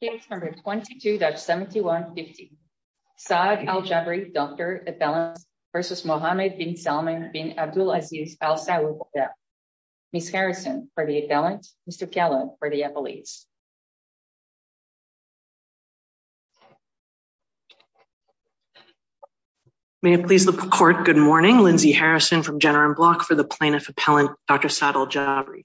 Case number 22-7150. Saad Aljabri, Dr. Appellant v. Mohammed bin Salman bin Abdulaziz al Saud. Ms. Harrison for the appellant, Mr. Kellogg for the appellate. May it please the court, good morning. Lindsay Harrison from Jenner and Block for the plaintiff appellant, Dr. Saad Aljabri.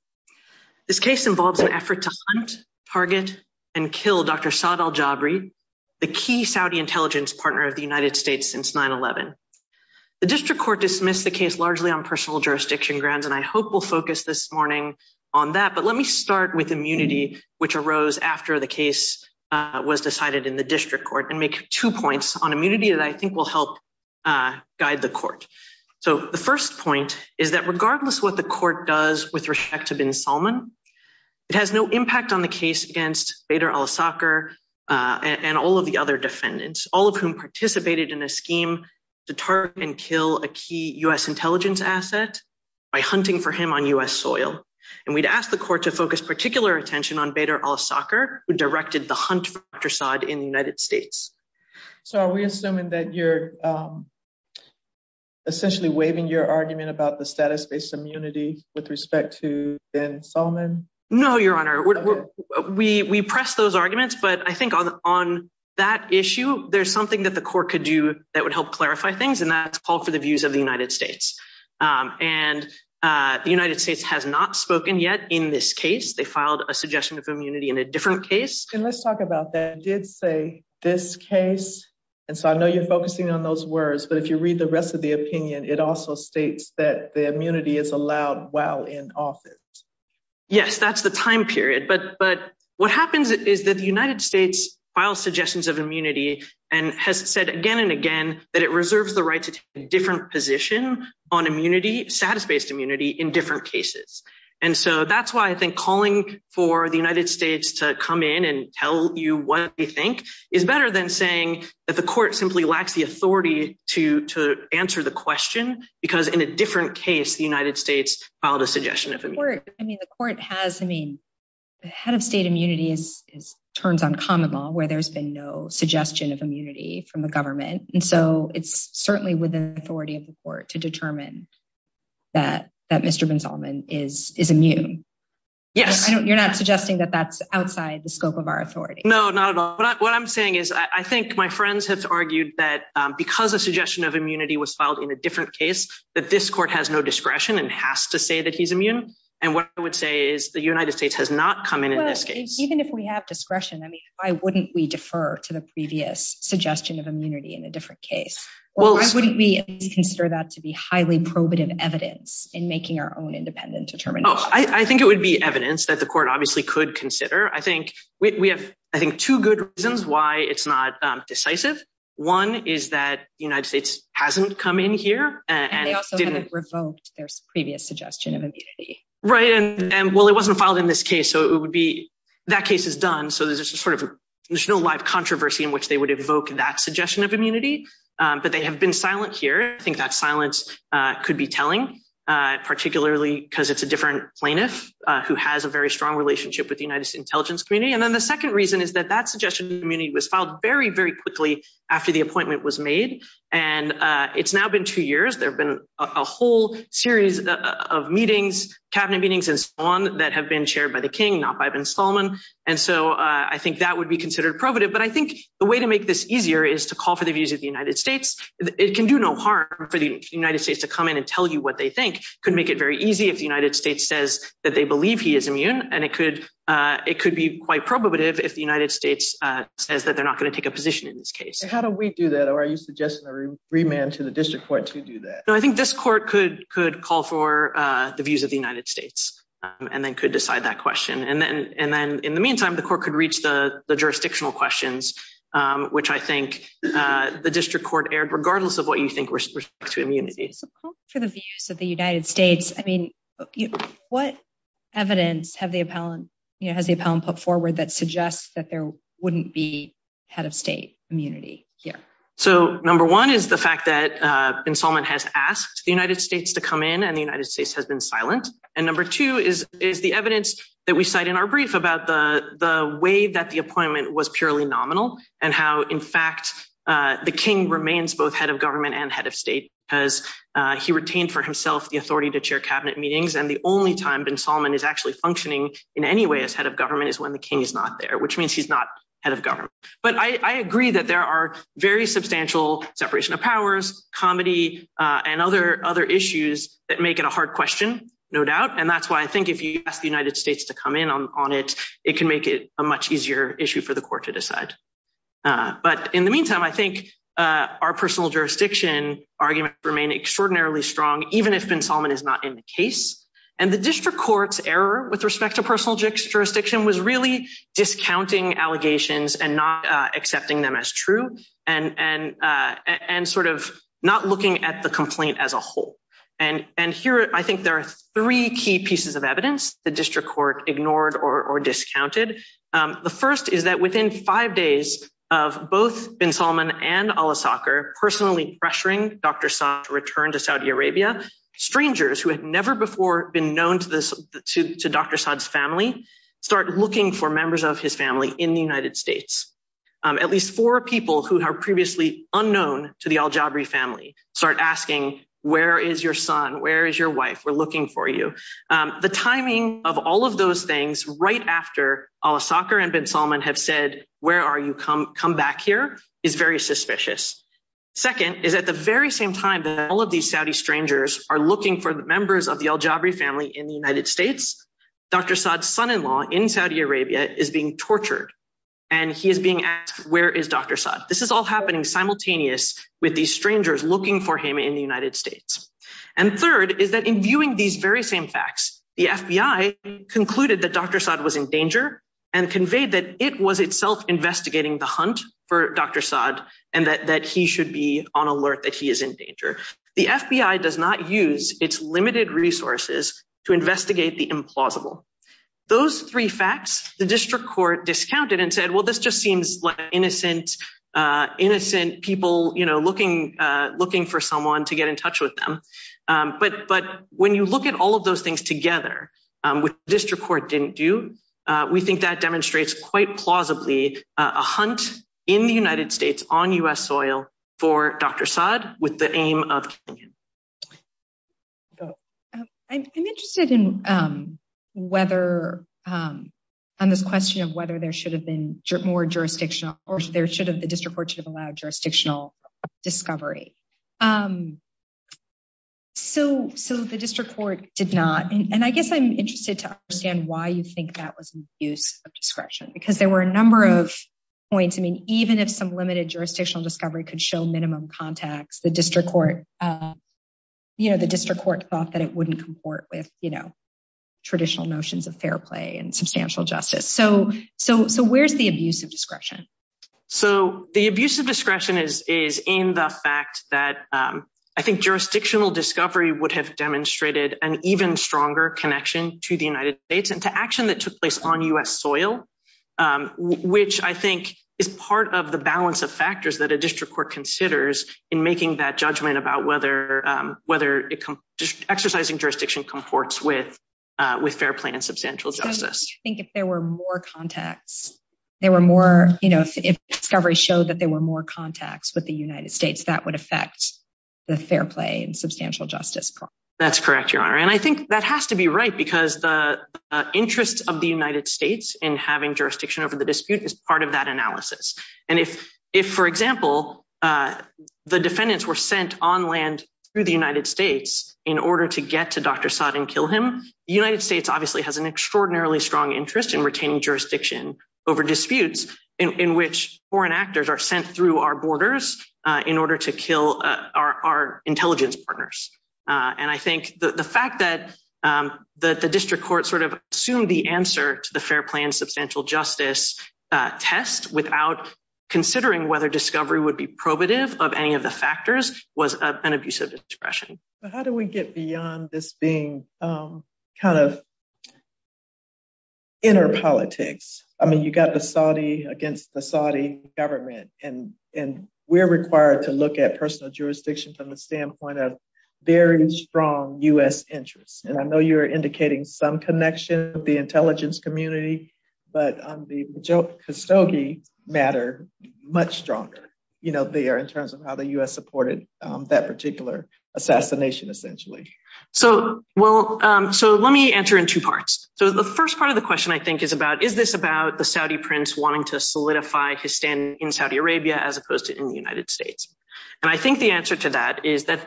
This case involves an effort to hunt, target, and kill Dr. Saad Aljabri, the key Saudi intelligence partner of the United States since 9-11. The district court dismissed the case largely on personal jurisdiction grounds, and I hope we'll focus this morning on that. But let me start with immunity, which arose after the case was decided in the district court, and make two points on immunity that I think will help guide the court. So the first point is that regardless what the court does with respect to bin Salman, it has no impact on the case against Bader al-Assad and all of the other defendants, all of whom participated in a scheme to target and kill a key US intelligence asset by hunting for him on US soil. And we'd ask the court to focus particular attention on Bader al-Assad, who directed the hunt for Dr. Saad in the United States. So are we assuming that you're essentially waiving your argument about the status-based immunity with respect to bin Salman? No, Your Honor. We press those arguments, but I think on that issue, there's something that the court could do that would help clarify things, and that's call for the views of the United States. And the United States has not spoken yet in this case. They filed a suggestion of immunity in a different case. And let's talk about that. It did say, this case. And so I know you're focusing on those words, but if you read the rest of the opinion, it also states that the immunity is allowed while in office. Yes, that's the time period. But what happens is that the United States files suggestions of immunity and has said again and again that it reserves the right to take a different position on immunity, status-based immunity, in different cases. And so that's why I think calling for the United States to come in and tell you what they think is better than saying that the court simply lacks the authority to answer the question, because in a different case, the United States filed a suggestion of immunity. I mean, the court has, I mean, the head of state immunity turns on common law where there's been no suggestion of immunity from the government. And so it's certainly within the authority of the court to determine that Mr. Binsolman is immune. Yes. You're not suggesting that that's outside the scope of our authority. No, not at all. What I'm saying is, I think my friends have argued that because a suggestion of immunity was filed in a different case, that this court has no discretion and has to say that he's immune. And what I would say is the United States has not come in in this case. Even if we have discretion, I mean, why wouldn't we defer to the previous suggestion of immunity in a different case? Well, why wouldn't we consider that to be highly probative evidence in making our own independent determination? Oh, I think it would be evidence that the court obviously could consider. I think we have, I think, two good reasons why it's not decisive. One is that the United States hasn't come in here. And they also haven't revoked their previous suggestion of immunity. Right, and well, it wasn't filed in this case, so it would be, that case is done. So there's just sort of, there's no live controversy in which they would evoke that suggestion of immunity, but they have been silent here. I think that silence could be telling, particularly because it's a different plaintiff who has a very strong relationship with the United States intelligence community. And then the second reason is that that suggestion of immunity was filed very, very quickly after the appointment was made. And it's now been two years. There've been a whole series of meetings, cabinet meetings and so on, that have been chaired by the King, not by Ben Solomon. And so I think that would be considered probative. But I think the way to make this easier is to call for the views of the United States. It can do no harm for the United States to come in and tell you what they think. Could make it very easy if the United States says that they believe he is immune. And it could be quite probative if the United States says that they're not going to take a position in this case. How do we do that? Or are you suggesting a remand to the district court to do that? No, I think this court could call for the views of the United States and then could decide that question. And then in the meantime, the court could reach the jurisdictional questions, which I think the district court aired, regardless of what you think with respect to immunity. For the views of the United States. I mean, what evidence has the appellant put forward that suggests that there wouldn't be head of state immunity here? So number one is the fact that Ben Solomon has asked the United States to come in and the United States has been silent. And number two is the evidence that we cite in our brief about the way that the appointment was purely nominal and how in fact, the King remains both head of government and head of state, as he retained for himself the authority to chair cabinet meetings. And the only time Ben Solomon is actually functioning in any way as head of government is when the King is not there, which means he's not head of government. But I agree that there are very substantial separation of powers, comedy, and other issues that make it a hard question, no doubt. And that's why I think if you ask the United States to come in on it, it can make it a much easier issue for the court to decide. But in the meantime, I think our personal jurisdiction argument remain extraordinarily strong, even if Ben Solomon is not in the case. And the district court's error with respect to personal jurisdiction was really discounting allegations and not accepting them as true and sort of not looking at the complaint as a whole. And here, I think there are three key pieces of evidence the district court ignored or discounted. The first is that within five days of both Ben Solomon and al-Assad personally pressuring Dr. Saad to return to Saudi Arabia, strangers who had never before been known to Dr. Saad's family, start looking for members of his family in the United States. At least four people who are previously unknown to the al-Jabri family, start asking, where is your son? Where is your wife? We're looking for you. The timing of all of those things right after al-Assad and Ben Solomon have said, where are you, come back here, is very suspicious. Second is at the very same time that all of these Saudi strangers are looking for the members of the al-Jabri family in the United States, Dr. Saad's son-in-law in Saudi Arabia is being tortured and he is being asked, where is Dr. Saad? This is all happening simultaneous with these strangers looking for him in the United States. And third is that in viewing these very same facts, the FBI concluded that Dr. Saad was in danger and conveyed that it was itself investigating the hunt for Dr. Saad and that he should be on alert that he is in danger. The FBI does not use its limited resources to investigate the implausible. Those three facts, the district court discounted and said, well, this just seems like innocent people looking for someone to get in touch with them. But when you look at all of those things together which the district court didn't do, we think that demonstrates quite plausibly a hunt in the United States on US soil for Dr. Saad with the aim of killing him. Go ahead. I'm interested on this question of whether there should have been more jurisdictional or the district court should have allowed jurisdictional discovery. So the district court did not. And I guess I'm interested to understand why you think that was an abuse of discretion because there were a number of points. I mean, even if some limited jurisdictional discovery could show minimum contacts, the district court thought that it wouldn't comport with traditional notions of fair play and substantial justice. So where's the abuse of discretion? So the abuse of discretion is in the fact that I think jurisdictional discovery would have demonstrated an even stronger connection to the United States and to action that took place on US soil, which I think is part of the balance of factors that a district court considers in making that judgment about whether exercising jurisdiction comports with fair play and substantial justice. I think if there were more contacts, there were more, you know, if discovery showed that there were more contacts with the United States, that would affect the fair play and substantial justice problem. That's correct, Your Honor. And I think that has to be right because the interest of the United States in having jurisdiction over the dispute is part of that analysis. And if, for example, the defendants were sent on land through the United States in order to get to Dr. Saad and kill him, the United States obviously has an extraordinarily strong interest in retaining jurisdiction over disputes in which foreign actors are sent through our borders in order to kill our intelligence partners. And I think the fact that the district court sort of assumed the answer to the fair play and substantial justice test without considering whether discovery would be probative of any of the factors was an abusive expression. But how do we get beyond this being kind of inner politics? I mean, you got the Saudi against the Saudi government and we're required to look at personal jurisdiction from the standpoint of very strong U.S. interests. And I know you're indicating some connection with the intelligence community, but on the Kastogi matter, much stronger, they are in terms of how the U.S. supported that particular assassination essentially. So, well, so let me answer in two parts. So the first part of the question I think is about, is this about the Saudi prince wanting to solidify his stand in Saudi Arabia as opposed to in the United States? And I think the answer to that is that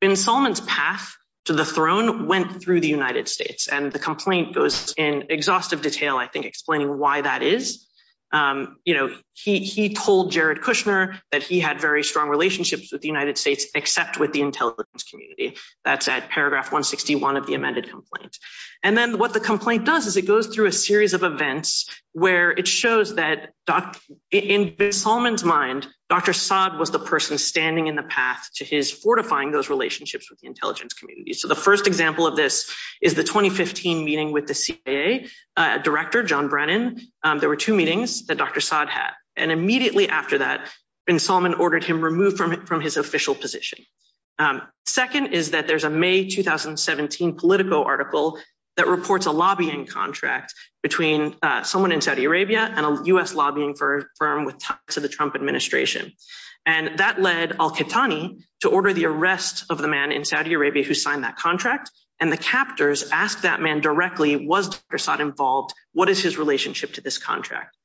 bin Salman's path to the throne went through the United States and the complaint goes in exhaustive detail, I think explaining why that is. He told Jared Kushner that he had very strong relationships with the United States except with the intelligence community. That's at paragraph 161 of the amended complaint. And then what the complaint does is it goes through a series of events where it shows that in bin Salman's mind, Dr. Saad was the person standing in the path to his fortifying those relationships with the intelligence community. So the first example of this is the 2015 meeting with the CIA director, John Brennan. There were two meetings that Dr. Saad had and immediately after that, bin Salman ordered him removed from his official position. Second is that there's a May 2017 Politico article that reports a lobbying contract between someone in Saudi Arabia and a U.S. lobbying firm to the Trump administration. And that led al-Qahtani to order the arrest of the man in Saudi Arabia who signed that contract. And the captors asked that man directly, was Dr. Saad involved? What is his relationship to this contract?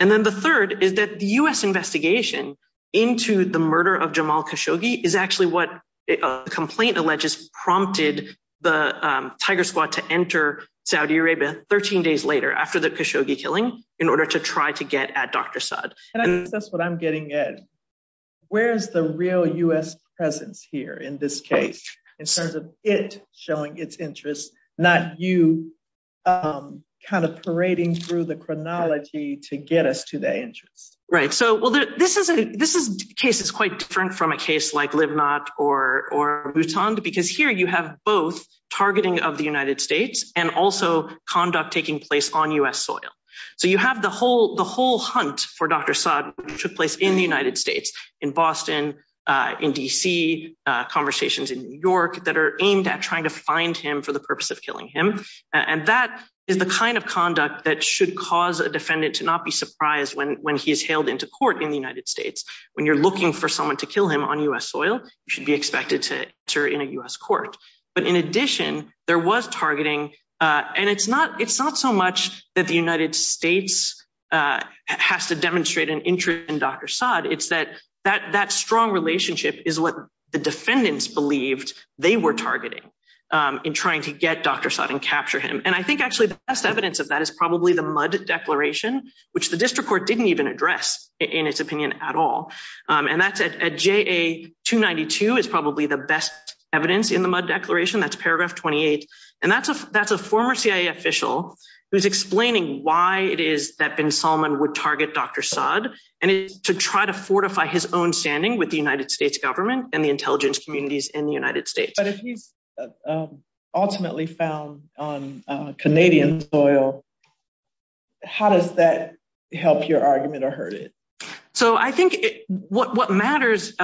And then the third is that the U.S. investigation into the murder of Jamal Khashoggi is actually what the complaint alleges prompted the Tiger Squad to enter Saudi Arabia 13 days later after the Khashoggi killing in order to try to get at Dr. Saad. And I guess that's what I'm getting at. Where's the real U.S. presence here in this case in terms of it showing its interest, not you kind of parading through the chronology to get us to the interest? Right, so this case is quite different from a case like Livnat or Bhutan because here you have both targeting of the United States and also conduct taking place on U.S. soil. So you have the whole hunt for Dr. Saad took place in the United States, in Boston, in D.C., conversations in New York that are aimed at trying to find him for the purpose of killing him. And that is the kind of conduct that should cause a defendant to not be surprised when he is hailed into court in the United States. When you're looking for someone to kill him on U.S. soil, you should be expected to enter in a U.S. court. But in addition, there was targeting, and it's not so much that the United States has to demonstrate an interest in Dr. Saad, it's that that strong relationship is what the defendants believed they were targeting in trying to get Dr. Saad and capture him. And I think actually the best evidence of that is probably the Mudd Declaration, which the district court didn't even address in its opinion at all. And that's at JA 292 is probably the best evidence in the Mudd Declaration, that's paragraph 28. And that's a former CIA official who's explaining why it is that bin Salman would target Dr. Saad, and to try to fortify his own standing with the United States government and the intelligence communities in the United States. But if he's ultimately found on Canadian soil, how does that help your argument or hurt it? So I think what matters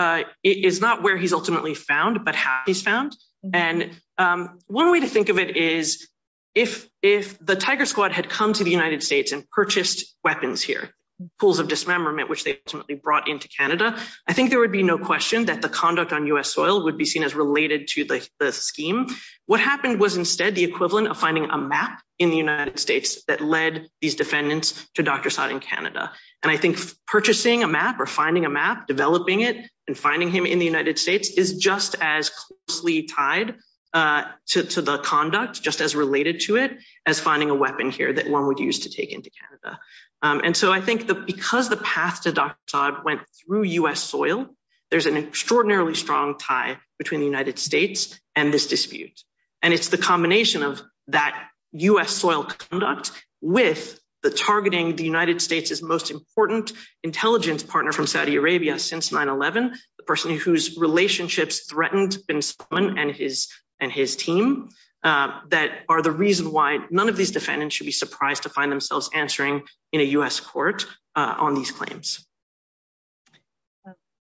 is not where he's ultimately found, but how he's found. And one way to think of it is if the Tiger Squad had come to the United States and purchased weapons here, pools of dismemberment, which they ultimately brought into Canada, I think there would be no question that the conduct on US soil would be seen as related to the scheme. What happened was instead the equivalent of finding a map in the United States that led these defendants to Dr. Saad in Canada. And I think purchasing a map or finding a map, developing it and finding him in the United States is just as closely tied to the conduct, just as related to it as finding a weapon here that one would use to take into Canada. And so I think that because the path to Dr. Saad went through US soil, there's an extraordinarily strong tie between the United States and this dispute. And it's the combination of that US soil conduct with the targeting the United States is most important intelligence partner from Saudi Arabia since 9-11, the person whose relationships threatened Bin Salman and his team. That are the reason why none of these defendants should be surprised to find themselves answering in a US court on these claims.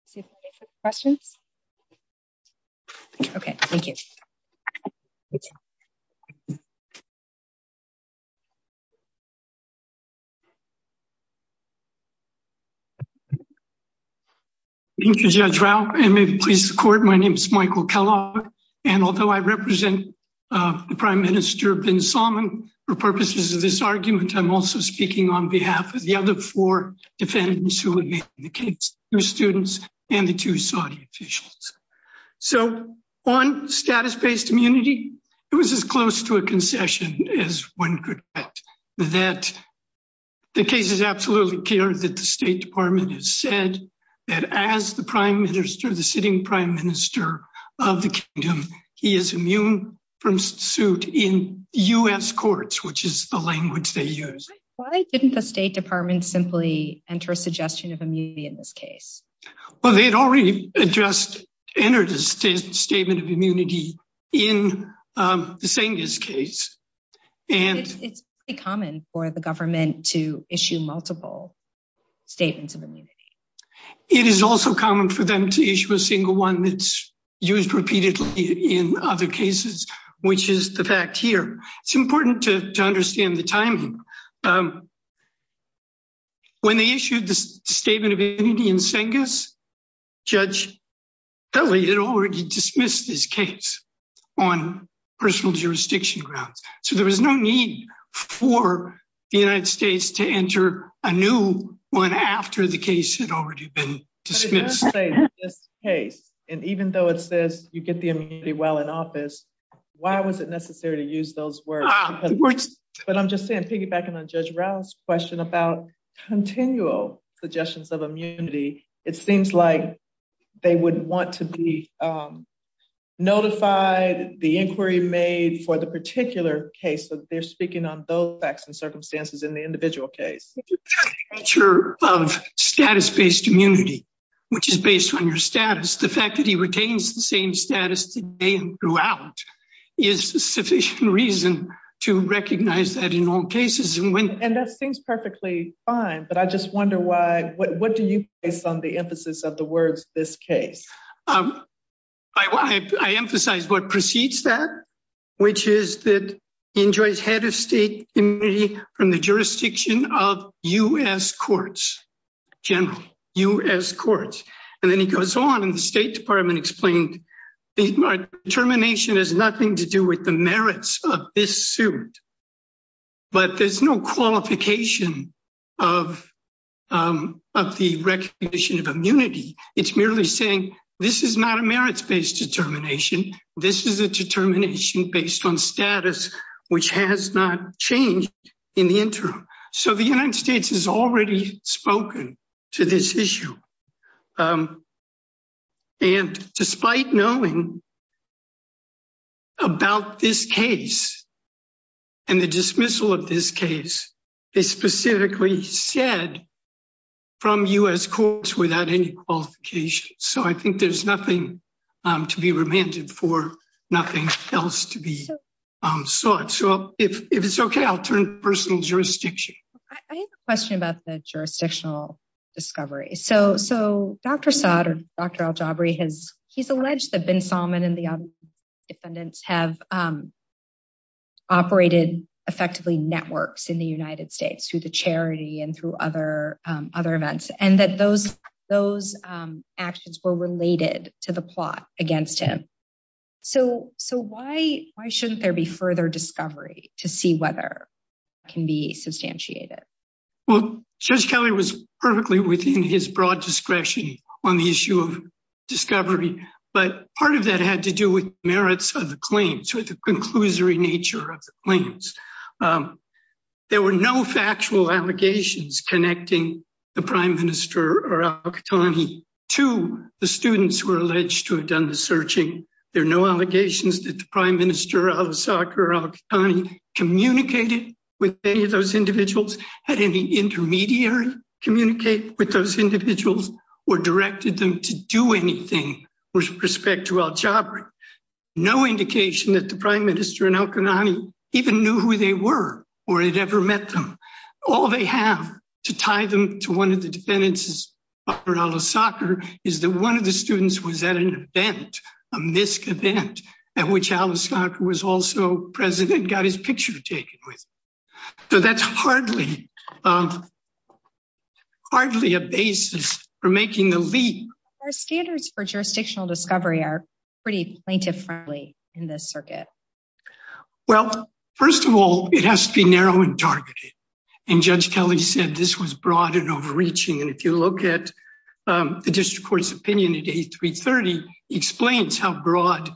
See if there's any questions. Okay, thank you. Thank you, Judge Rao and maybe please support. My name is Michael Kellogg. And although I represent the Prime Minister Bin Salman, for purposes of this argument, I'm also speaking on behalf of the other four defendants who would make the case, two students and the two Saudi officials. So on status-based immunity, it was as close to a concession as one could expect that the case is absolutely clear that the State Department has said that as the Prime Minister, the sitting Prime Minister of the Kingdom, he is immune from suit in US courts, which is the language they use. Why didn't the State Department simply enter a suggestion of immunity in this case? Well, they had already addressed, entered a statement of immunity in the Sengiz case. It's pretty common for the government to issue multiple statements of immunity. It is also common for them to issue a single one that's used repeatedly in other cases, which is the fact here. It's important to understand the timing. When they issued the statement of immunity in Sengiz, Judge Kelly had already dismissed his case on personal jurisdiction grounds. So there was no need for the United States to enter a new one after the case had already been dismissed. But in this case, and even though it says you get the immunity while in office, why was it necessary to use those words? But I'm just saying, piggybacking on Judge Rao's question about continual suggestions of immunity, it seems like they would want to be notified, the inquiry made for the particular case, so that they're speaking on those facts and circumstances in the individual case. If you take the nature of status-based immunity, which is based on your status, the fact that he retains the same status today and throughout is a sufficient reason to recognize that in all cases. And that seems perfectly fine, but I just wonder what do you place on the emphasis of the words, this case? I emphasize what precedes that, which is that he enjoys head of state immunity from the jurisdiction of U.S. courts, general U.S. courts. And then he goes on and the State Department explained, the termination has nothing to do with the merits of this suit, but there's no qualification of the recognition of immunity. It's merely saying, this is not a merits-based determination. This is a determination based on status, which has not changed in the interim. So the United States has already spoken to this issue. And despite knowing about this case and the dismissal of this case, is specifically said from U.S. courts without any qualification. So I think there's nothing to be remanded for nothing else to be sought. So if it's okay, I'll turn personal jurisdiction. I have a question about the jurisdictional discovery. So Dr. Saad or Dr. Aljabri, he's alleged that Bin Salman and the defendants have operated effectively networks in the United States through the charity and through other events. And that those actions were related to the plot against him. So why shouldn't there be further discovery to see whether it can be substantiated? Well, Judge Kelly was perfectly within his broad discretion on the issue of discovery, but part of that had to do with merits of the claims or the conclusory nature of the claims. There were no factual allegations connecting the prime minister or Al Qahtani to the students who were alleged to have done the searching. There are no allegations that the prime minister, Al-Osakar, Al-Qahtani, communicated with any of those individuals, had any intermediary communicate with those individuals or directed them to do anything with respect to Al-Jabri. No indication that the prime minister and Al-Qahtani even knew who they were or had ever met them. All they have to tie them to one of the defendants is Al-Osakar is that one of the students was at an event, a MISC event at which Al-Osakar was also president, got his picture taken with. So that's hardly a basis for making the leap. Our standards for jurisdictional discovery are pretty plaintiff-friendly in this circuit. Well, first of all, it has to be narrow and targeted. And Judge Kelly said this was broad and overreaching. And if you look at the district court's opinion at 8-330, he explains how broad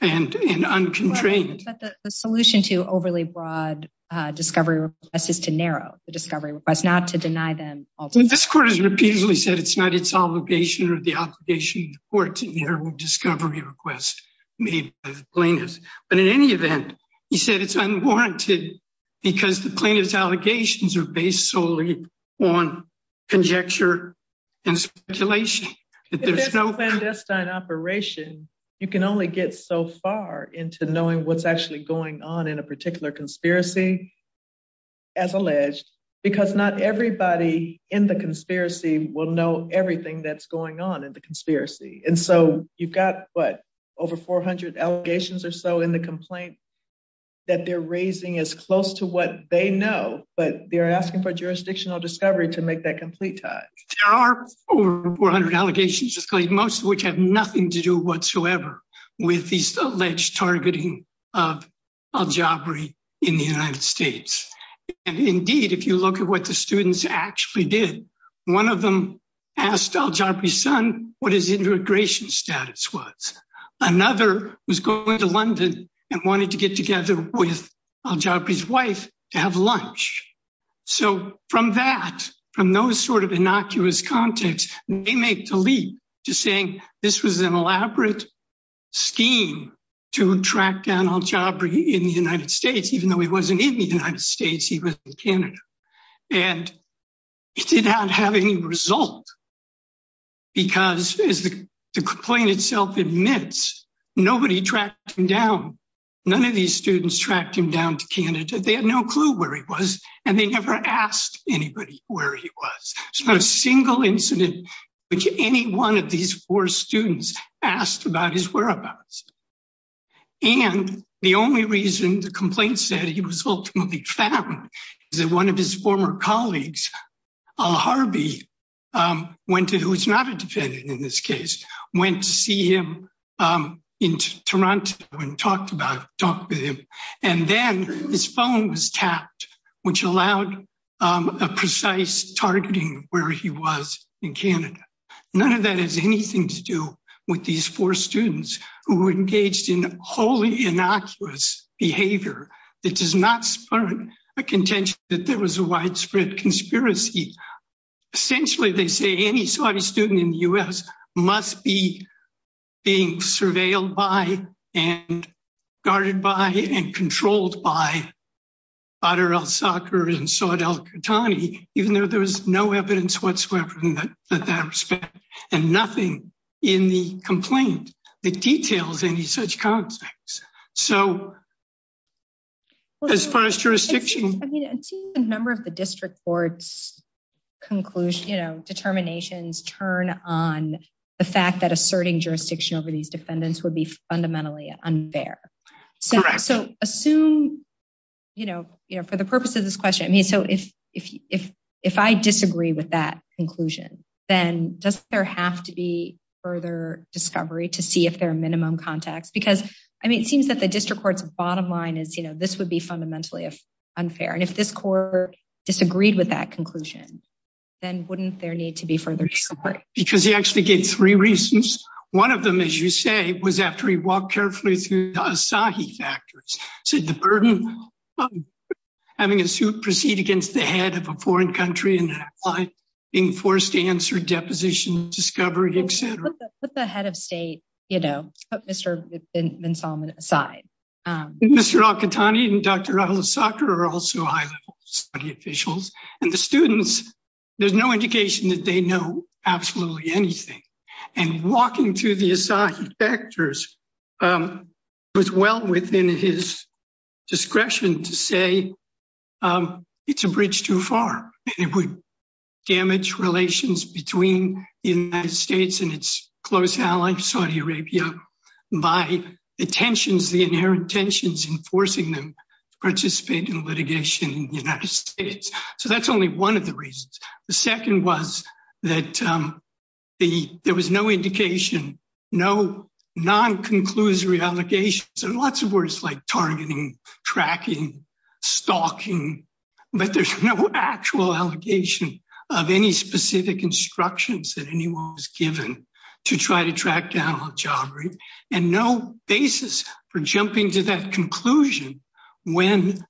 and unconstrained. But the solution to overly broad discovery request is to narrow the discovery request, not to deny them- This court has repeatedly said it's not its obligation or the obligation of the court to narrow discovery requests made by the plaintiffs. But in any event, he said it's unwarranted because the plaintiff's allegations are based solely on conjecture and speculation. There's no- If it's a clandestine operation, you can only get so far into knowing what's actually going on in a particular conspiracy, as alleged, because not everybody in the conspiracy will know everything that's going on in the conspiracy. And so you've got, what, over 400 allegations or so in the complaint that they're raising as close to what they know, but they're asking for jurisdictional discovery to make that complete tie. There are over 400 allegations, most of which have nothing to do whatsoever with these alleged targeting of Al-Jabri in the United States. And indeed, if you look at what the students actually did, one of them asked Al-Jabri's son what his immigration status was. Another was going to London and wanted to get together with Al-Jabri's wife to have lunch. So from that, from those sort of innocuous contexts, they make the leap to saying this was an elaborate scheme to track down Al-Jabri in the United States, even though he wasn't in the United States, he was in Canada. And it did not have any result because, as the complaint itself admits, nobody tracked him down. None of these students tracked him down to Canada. They had no clue where he was and they never asked anybody where he was. There's not a single incident which any one of these four students asked about his whereabouts. And the only reason the complaint said he was ultimately found is that one of his former colleagues, Al-Harbi, went to, who's not a defendant in this case, went to see him in Toronto and talked with him. And then his phone was tapped, which allowed a precise targeting where he was in Canada. None of that has anything to do with these four students who engaged in wholly innocuous behavior that does not spur a contention that there was a widespread conspiracy. Essentially, they say any Saudi student in the US must be being surveilled by and guarded by and controlled by Badr al-Sakr and Saud al-Qahtani, even though there was no evidence whatsoever in that respect and nothing in the complaint that details any such context. So, as far as jurisdiction- I mean, I've seen a number of the district court's determinations turn on the fact that asserting jurisdiction over these defendants would be fundamentally unfair. So assume, for the purpose of this question, I mean, so if I disagree with that conclusion, then does there have to be further discovery to see if there are minimum contacts? Because, I mean, it seems that the district court's bottom line is this would be fundamentally unfair. And if this court disagreed with that conclusion, then wouldn't there need to be further discovery? Because he actually gave three reasons. One of them, as you say, was after he walked carefully through the Asahi factors, said the burden of having a suit proceed against the head of a foreign country and being forced to answer deposition, discovery, et cetera. Put the head of state, you know, put Mr. bin Salman aside. Mr. Al-Qahtani and Dr. Al-Sakr are also high-level Saudi officials. And the students, there's no indication that they know absolutely anything. And walking through the Asahi factors was well within his discretion to say it's a bridge too far and it would damage relations between the United States and its close ally, Saudi Arabia, by the tensions, the inherent tensions in forcing them to participate in litigation in the United States. So that's only one of the reasons. The second was that there was no indication, no non-conclusory allegations, and lots of words like targeting, tracking, stalking, but there's no actual allegation of any specific instructions that anyone was given to try to track down al-Jabari and no basis for jumping to that conclusion when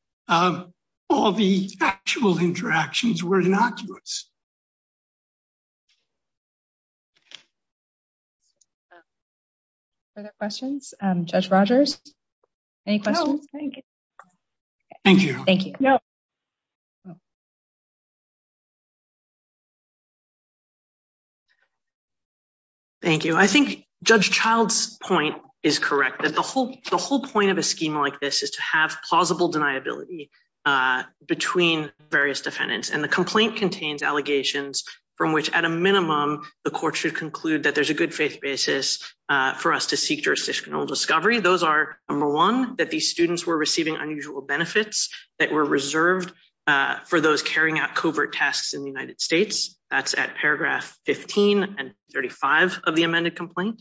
all the actual interactions were innocuous. Further questions? Judge Rogers, any questions? No, thank you. Thank you. Thank you. Thank you. I think Judge Child's point is correct, that the whole point of a scheme like this is to have plausible deniability between various defendants. And the complaint contains allegations from which at a minimum, the court should conclude that there's a good faith basis for us to seek jurisdictional discovery. Those are, number one, that these students were receiving unusual benefits that were reserved for those carrying out covert tasks in the United States. That's at paragraph 15 and 35 of the amended complaint.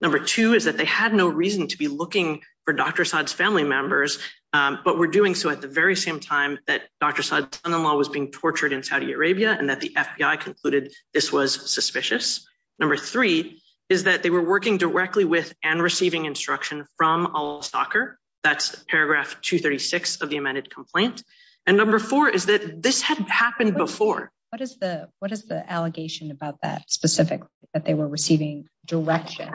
Number two is that they had no reason to be looking for Dr. Saad's family members, but were doing so at the very same time that Dr. Saad's son-in-law was being tortured in Saudi Arabia, and that the FBI concluded this was suspicious. Number three is that they were working directly with and receiving instruction from al-Staker. That's paragraph 236 of the amended complaint. And number four is that this had happened before. What is the allegation about that specifically, that they were receiving direction?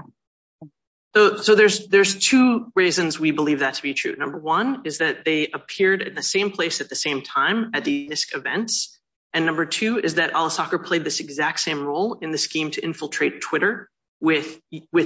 So there's two reasons we believe that to be true. Number one is that they appeared in the same place at the same time at the NISC events. And number two is that al-Staker played this exact same role in the scheme to infiltrate Twitter with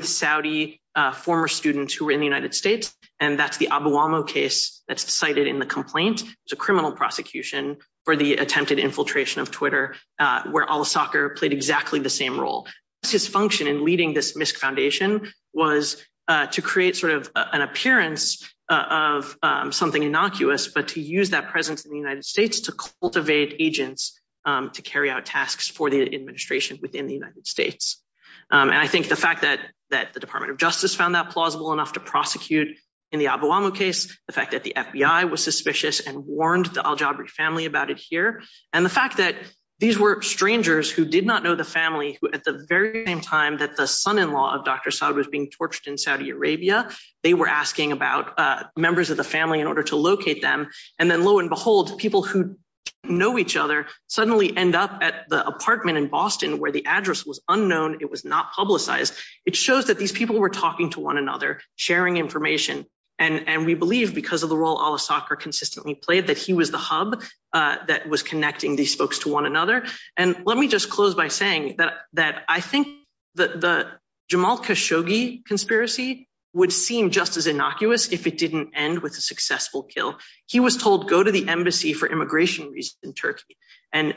Saudi former students who were in the United States. And that's the Abu Amo case that's cited in the complaint. It's a criminal prosecution for the attempted infiltration of Twitter, where al-Staker played exactly the same role. His function in leading this NISC foundation was to create sort of an appearance of something innocuous, but to use that presence in the United States to cultivate agents to carry out tasks for the administration within the United States. And I think the fact that the Department of Justice found that plausible enough to prosecute in the Abu Amo case, the fact that the FBI was suspicious and warned the al-Jabri family about it here, and the fact that these were strangers who did not know the family who at the very same time that the son-in-law of Dr. Saud was being tortured in Saudi Arabia, they were asking about members of the family in order to locate them. And then lo and behold, people who know each other suddenly end up at the apartment in Boston where the address was unknown, it was not publicized. It shows that these people were talking to one another, sharing information. And we believe because of the role al-Staker consistently played that he was the hub that was connecting these folks to one another. And let me just close by saying that I think the Jamal Khashoggi conspiracy would seem just as innocuous if it didn't end with a successful kill. He was told go to the embassy for immigration reasons in Turkey. And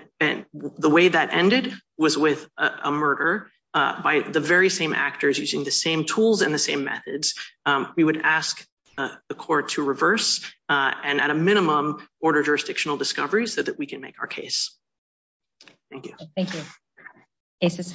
the way that ended was with a murder by the very same actors using the same tools and the same methods. We would ask the court to reverse and at a minimum order jurisdictional discovery so that we can make our case. Thank you. Thank you. Case is closed.